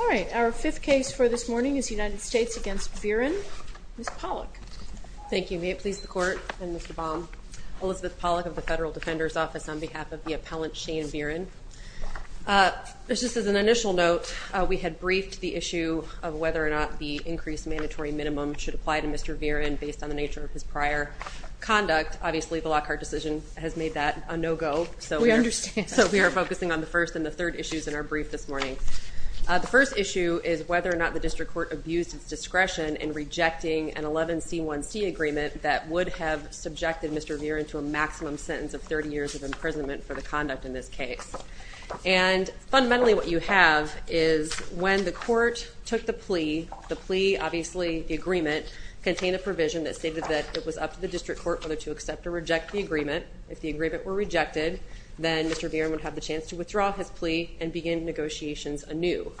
All right. Our fifth case for this morning is the United States against Viren. Ms. Pollack. Thank you. May it please the Court and Mr. Baum. Elizabeth Pollack of the Federal Defender's Office on behalf of the appellant Shane Viren. Just as an initial note, we had briefed the issue of whether or not the increased mandatory minimum should apply to Mr. Viren based on the nature of his prior conduct. Obviously, the Lockhart decision has made that a no-go. We understand. So we are focusing on the first and the third issues in our brief this morning. The first issue is whether or not the district court abused its discretion in rejecting an 11C1C agreement that would have subjected Mr. Viren to a maximum sentence of 30 years of imprisonment for the conduct in this case. And fundamentally, what you have is when the court took the plea, the plea, obviously the agreement, contained a provision that stated that it was up to the district court whether to accept or reject the agreement. If the agreement were rejected, then Mr. Viren would have the chance to withdraw his plea and begin negotiations anew.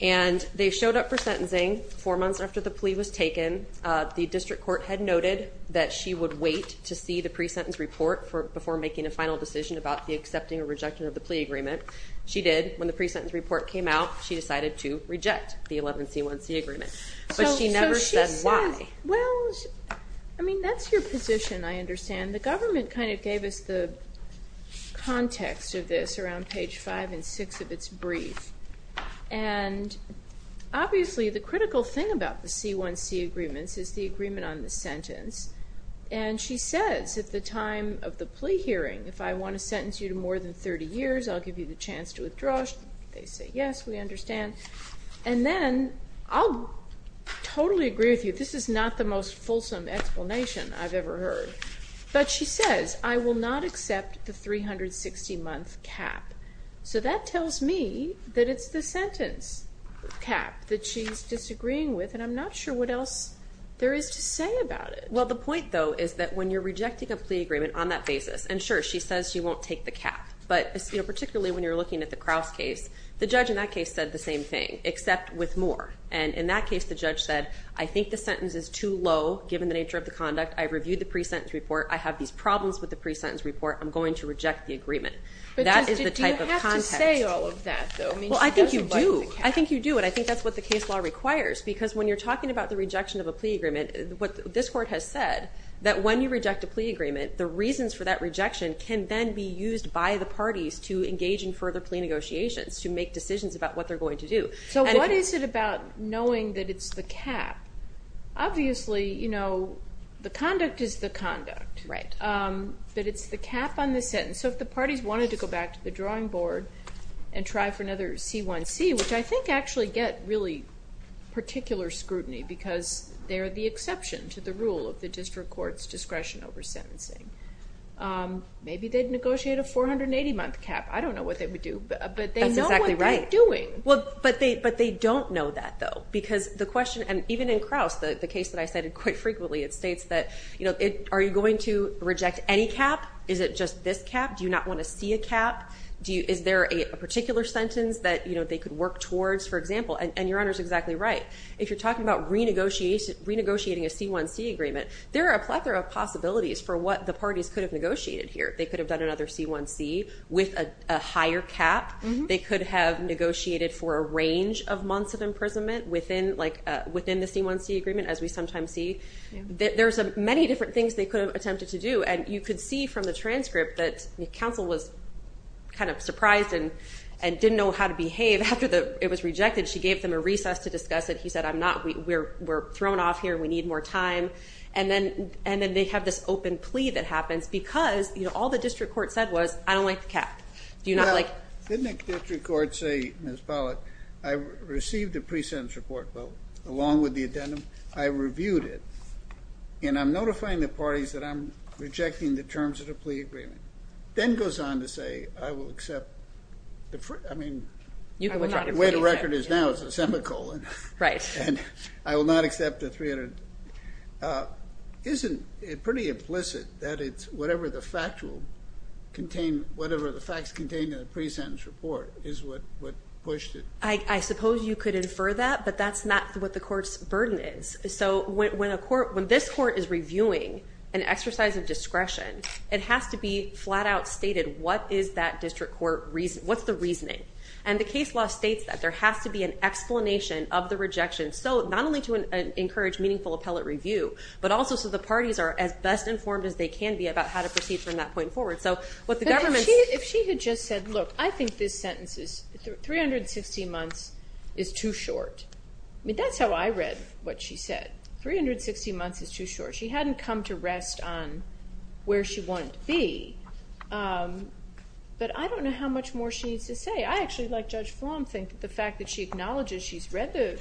And they showed up for sentencing four months after the plea was taken. The district court had noted that she would wait to see the pre-sentence report before making a final decision about the accepting or rejecting of the plea agreement. She did. When the pre-sentence report came out, she decided to reject the 11C1C agreement. But she never said why. Well, I mean, that's your position, I understand. The government kind of gave us the context of this around page five and six of its brief. And obviously, the critical thing about the C1C agreements is the agreement on the sentence. And she says at the time of the plea hearing, if I want to sentence you to more than 30 years, I'll give you the chance to withdraw. They say yes, we understand. And then I'll totally agree with you, this is not the most fulsome explanation I've ever heard. But she says, I will not accept the 360-month cap. So that tells me that it's the sentence cap that she's disagreeing with, and I'm not sure what else there is to say about it. Well, the point, though, is that when you're rejecting a plea agreement on that basis, and sure, she says she won't take the cap. But particularly when you're looking at the Crouse case, the judge in that case said the same thing, except with more. And in that case, the judge said, I think the sentence is too low given the nature of the conduct. I reviewed the pre-sentence report. I have these problems with the pre-sentence report. I'm going to reject the agreement. That is the type of context. But do you have to say all of that, though? Well, I think you do. I think you do, and I think that's what the case law requires. Because when you're talking about the rejection of a plea agreement, what this court has said, that when you reject a plea agreement, the reasons for that rejection can then be used by the parties to engage in further plea negotiations, to make decisions about what they're going to do. So what is it about knowing that it's the cap? Obviously, you know, the conduct is the conduct. Right. But it's the cap on the sentence. So if the parties wanted to go back to the drawing board and try for another C1C, which I think actually get really particular scrutiny because they're the exception to the rule of the district court's discretion over sentencing, maybe they'd negotiate a 480-month cap. I don't know what they would do, but they know what they're doing. That's exactly right. But they don't know that, though, because the question, and even in Krauss, the case that I cited quite frequently, it states that, you know, are you going to reject any cap? Is it just this cap? Do you not want to see a cap? Is there a particular sentence that, you know, they could work towards, for example? And Your Honor's exactly right. If you're talking about renegotiating a C1C agreement, there are a plethora of possibilities for what the parties could have negotiated here. They could have done another C1C with a higher cap. They could have negotiated for a range of months of imprisonment within the C1C agreement, as we sometimes see. There's many different things they could have attempted to do. And you could see from the transcript that counsel was kind of surprised and didn't know how to behave after it was rejected. She gave them a recess to discuss it. He said, I'm not. We're thrown off here. We need more time. And then they have this open plea that happens because, you know, all the district court said was, I don't like the cap. Didn't the district court say, Ms. Pollack, I received a pre-sentence report, along with the addendum. I reviewed it. And I'm notifying the parties that I'm rejecting the terms of the plea agreement. Then goes on to say, I will accept the free ‑‑ I mean, the way the record is now is a semicolon. Right. And I will not accept the 300. Isn't it pretty implicit that it's whatever the facts contained in the pre-sentence report is what pushed it? I suppose you could infer that, but that's not what the court's burden is. So when this court is reviewing an exercise of discretion, it has to be flat‑out stated what is that district court ‑‑ what's the reasoning. And the case law states that there has to be an explanation of the rejection, so not only to encourage meaningful appellate review, but also so the parties are as best informed as they can be about how to proceed from that point forward. So what the government ‑‑ If she had just said, look, I think this sentence is 360 months is too short. I mean, that's how I read what she said. 360 months is too short. She hadn't come to rest on where she wanted to be. But I don't know how much more she needs to say. I actually, like Judge Flom, think the fact that she acknowledges she's read the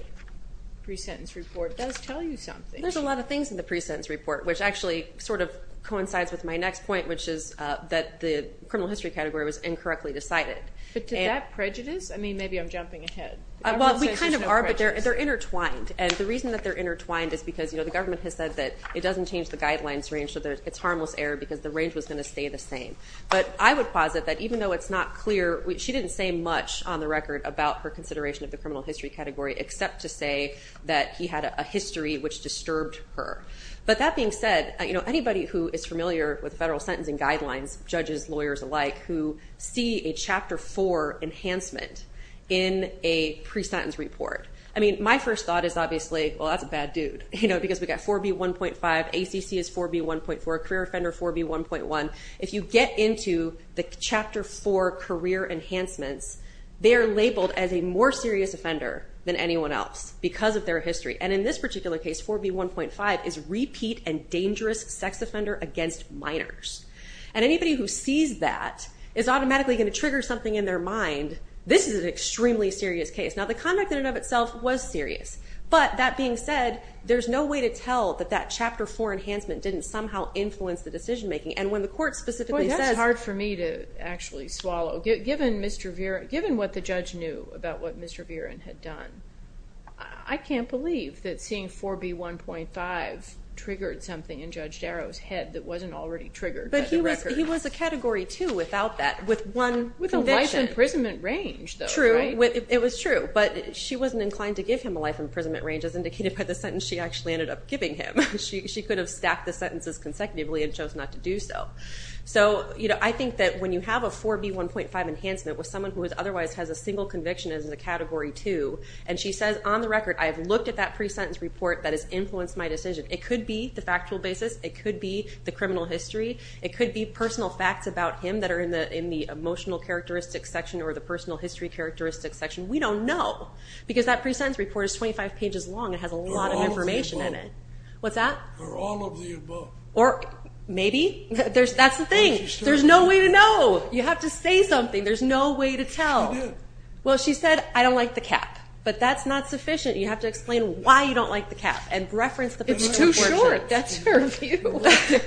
pre-sentence report does tell you something. There's a lot of things in the pre-sentence report, which actually sort of coincides with my next point, which is that the criminal history category was incorrectly decided. But to that prejudice? I mean, maybe I'm jumping ahead. Well, we kind of are, but they're intertwined. And the reason that they're intertwined is because the government has said that it doesn't change the guidelines range, so it's harmless error because the range was going to stay the same. But I would posit that even though it's not clear, she didn't say much on the record about her consideration of the criminal history category except to say that he had a history which disturbed her. But that being said, anybody who is familiar with federal sentencing guidelines, judges, lawyers alike, who see a Chapter 4 enhancement in a pre-sentence report. I mean, my first thought is obviously, well, that's a bad dude. You know, because we've got 4B1.5, ACC is 4B1.4, career offender 4B1.1. If you get into the Chapter 4 career enhancements, they are labeled as a more serious offender than anyone else because of their history. And in this particular case, 4B1.5 is repeat and dangerous sex offender against minors. And anybody who sees that is automatically going to trigger something in their mind. This is an extremely serious case. Now, the conduct in and of itself was serious. But that being said, there's no way to tell that that Chapter 4 enhancement didn't somehow influence the decision-making. And when the court specifically says— Boy, that's hard for me to actually swallow. Given what the judge knew about what Mr. Viren had done, I can't believe that seeing 4B1.5 triggered something in Judge Darrow's head that wasn't already triggered by the record. But he was a Category 2 without that, with one conviction. With a life imprisonment range, though, right? True. It was true. But she wasn't inclined to give him a life imprisonment range as indicated by the sentence she actually ended up giving him. She could have stacked the sentences consecutively and chose not to do so. So I think that when you have a 4B1.5 enhancement with someone who otherwise has a single conviction as a Category 2, and she says on the record, I have looked at that pre-sentence report that has influenced my decision, it could be the factual basis, it could be the criminal history, it could be personal facts about him that are in the emotional characteristics section or the personal history characteristics section. We don't know because that pre-sentence report is 25 pages long. It has a lot of information in it. They're all of the above. What's that? They're all of the above. Or maybe. That's the thing. There's no way to know. You have to say something. There's no way to tell. She did. Well, she said, I don't like the cap. But that's not sufficient. You have to explain why you don't like the cap and reference the pre-sentence report. It's too short. That's her view. She didn't like the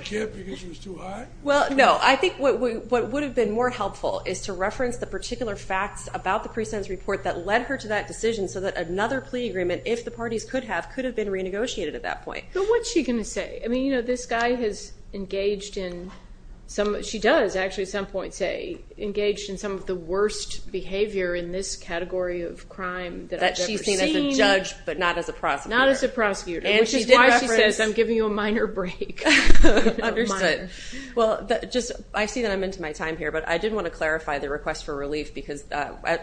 cap because it was too high? Well, no. I think what would have been more helpful is to reference the particular facts about the pre-sentence report that led her to that decision so that another plea agreement, if the parties could have, could have been renegotiated at that point. But what's she going to say? I mean, you know, this guy has engaged in some, engaged in some of the worst behavior in this category of crime that I've ever seen. I mean, as a judge, but not as a prosecutor. Not as a prosecutor. And she did reference, I'm giving you a minor break. Understood. Well, I see that I'm into my time here, but I did want to clarify the request for relief because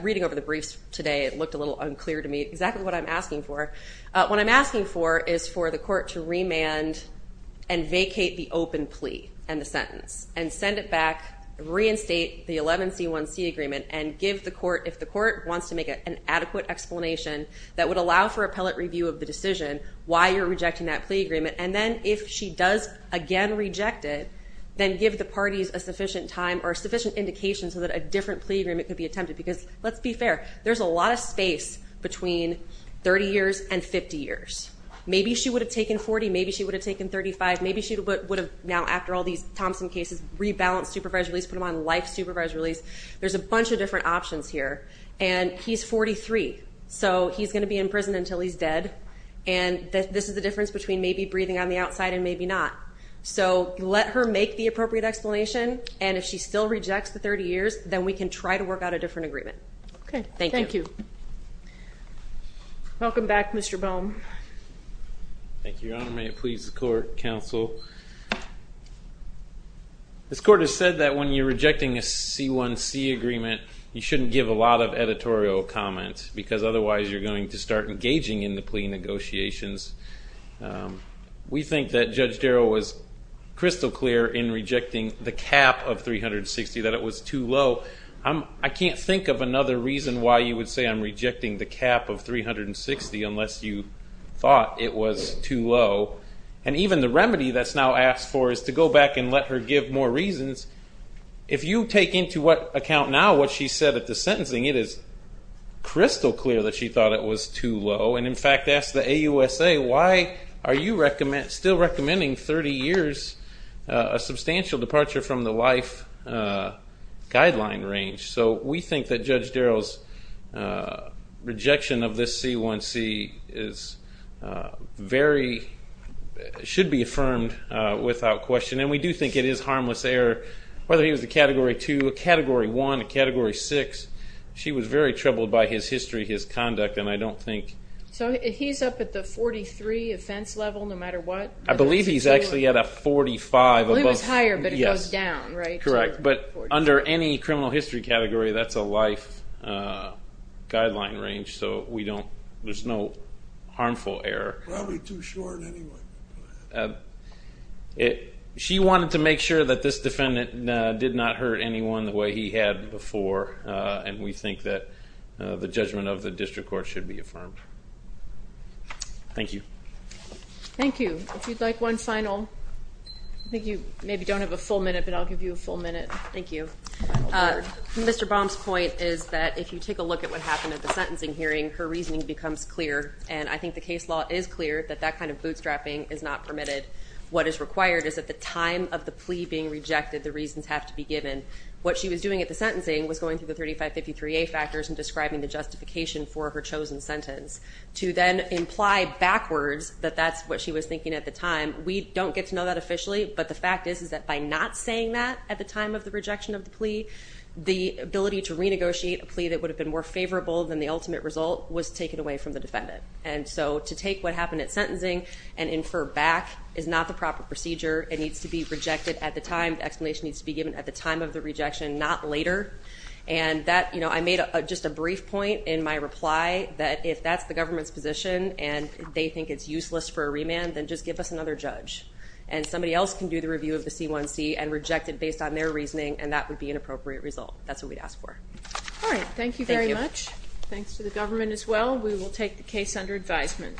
reading over the briefs today, it looked a little unclear to me exactly what I'm asking for. What I'm asking for is for the court to remand and vacate the open plea and the sentence and send it back, reinstate the 11C1C agreement and give the court, if the court wants to make an adequate explanation, that would allow for appellate review of the decision why you're rejecting that plea agreement. And then if she does again reject it, then give the parties a sufficient time or sufficient indication so that a different plea agreement could be attempted. Because let's be fair, there's a lot of space between 30 years and 50 years. Maybe she would have taken 40. Maybe she would have taken 35. Maybe she would have now, after all these Thompson cases, rebalanced supervised release, put him on life supervised release. There's a bunch of different options here. And he's 43. So he's going to be in prison until he's dead. And this is the difference between maybe breathing on the outside and maybe not. So let her make the appropriate explanation. And if she still rejects the 30 years, then we can try to work out a different agreement. Okay. Thank you. Welcome back, Mr. Boehm. Thank you, Your Honor. May it please the court, counsel. This court has said that when you're rejecting a C1C agreement, you shouldn't give a lot of editorial comments. Because otherwise, you're going to start engaging in the plea negotiations. We think that Judge Darrow was crystal clear in rejecting the cap of 360, that it was too low. I can't think of another reason why you would say I'm rejecting the cap of 360 unless you thought it was too low. And even the remedy that's now asked for is to go back and let her give more reasons. If you take into account now what she said at the sentencing, it is crystal clear that she thought it was too low. And, in fact, asked the AUSA, why are you still recommending 30 years, a substantial departure from the life guideline range? So we think that Judge Darrow's rejection of this C1C should be affirmed without question. And we do think it is harmless error. Whether he was a Category 2, a Category 1, a Category 6, she was very troubled by his history, his conduct, and I don't think... So he's up at the 43 offense level no matter what? I believe he's actually at a 45 above... Well, he was higher, but it goes down, right? Correct, but under any criminal history category, that's a life guideline range, so we don't... there's no harmful error. Probably too short anyway. She wanted to make sure that this defendant did not hurt anyone the way he had before, and we think that the judgment of the district court should be affirmed. Thank you. Thank you. If you'd like one final... I think you maybe don't have a full minute, but I'll give you a full minute. Thank you. Mr. Baum's point is that if you take a look at what happened at the sentencing hearing, her reasoning becomes clear, and I think the case law is clear that that kind of bootstrapping is not permitted. What is required is at the time of the plea being rejected, the reasons have to be given. What she was doing at the sentencing was going through the 3553A factors and describing the justification for her chosen sentence to then imply backwards that that's what she was thinking at the time. We don't get to know that officially, but the fact is is that by not saying that at the time of the rejection of the plea, the ability to renegotiate a plea that would have been more favorable than the ultimate result was taken away from the defendant. And so to take what happened at sentencing and infer back is not the proper procedure. It needs to be rejected at the time. The explanation needs to be given at the time of the rejection, not later. And I made just a brief point in my reply that if that's the government's position and they think it's useless for a remand, then just give us another judge. And somebody else can do the review of the C1C and reject it based on their reasoning, and that would be an appropriate result. That's what we'd ask for. All right. Thank you very much. Thanks to the government as well. We will take the case under advisement.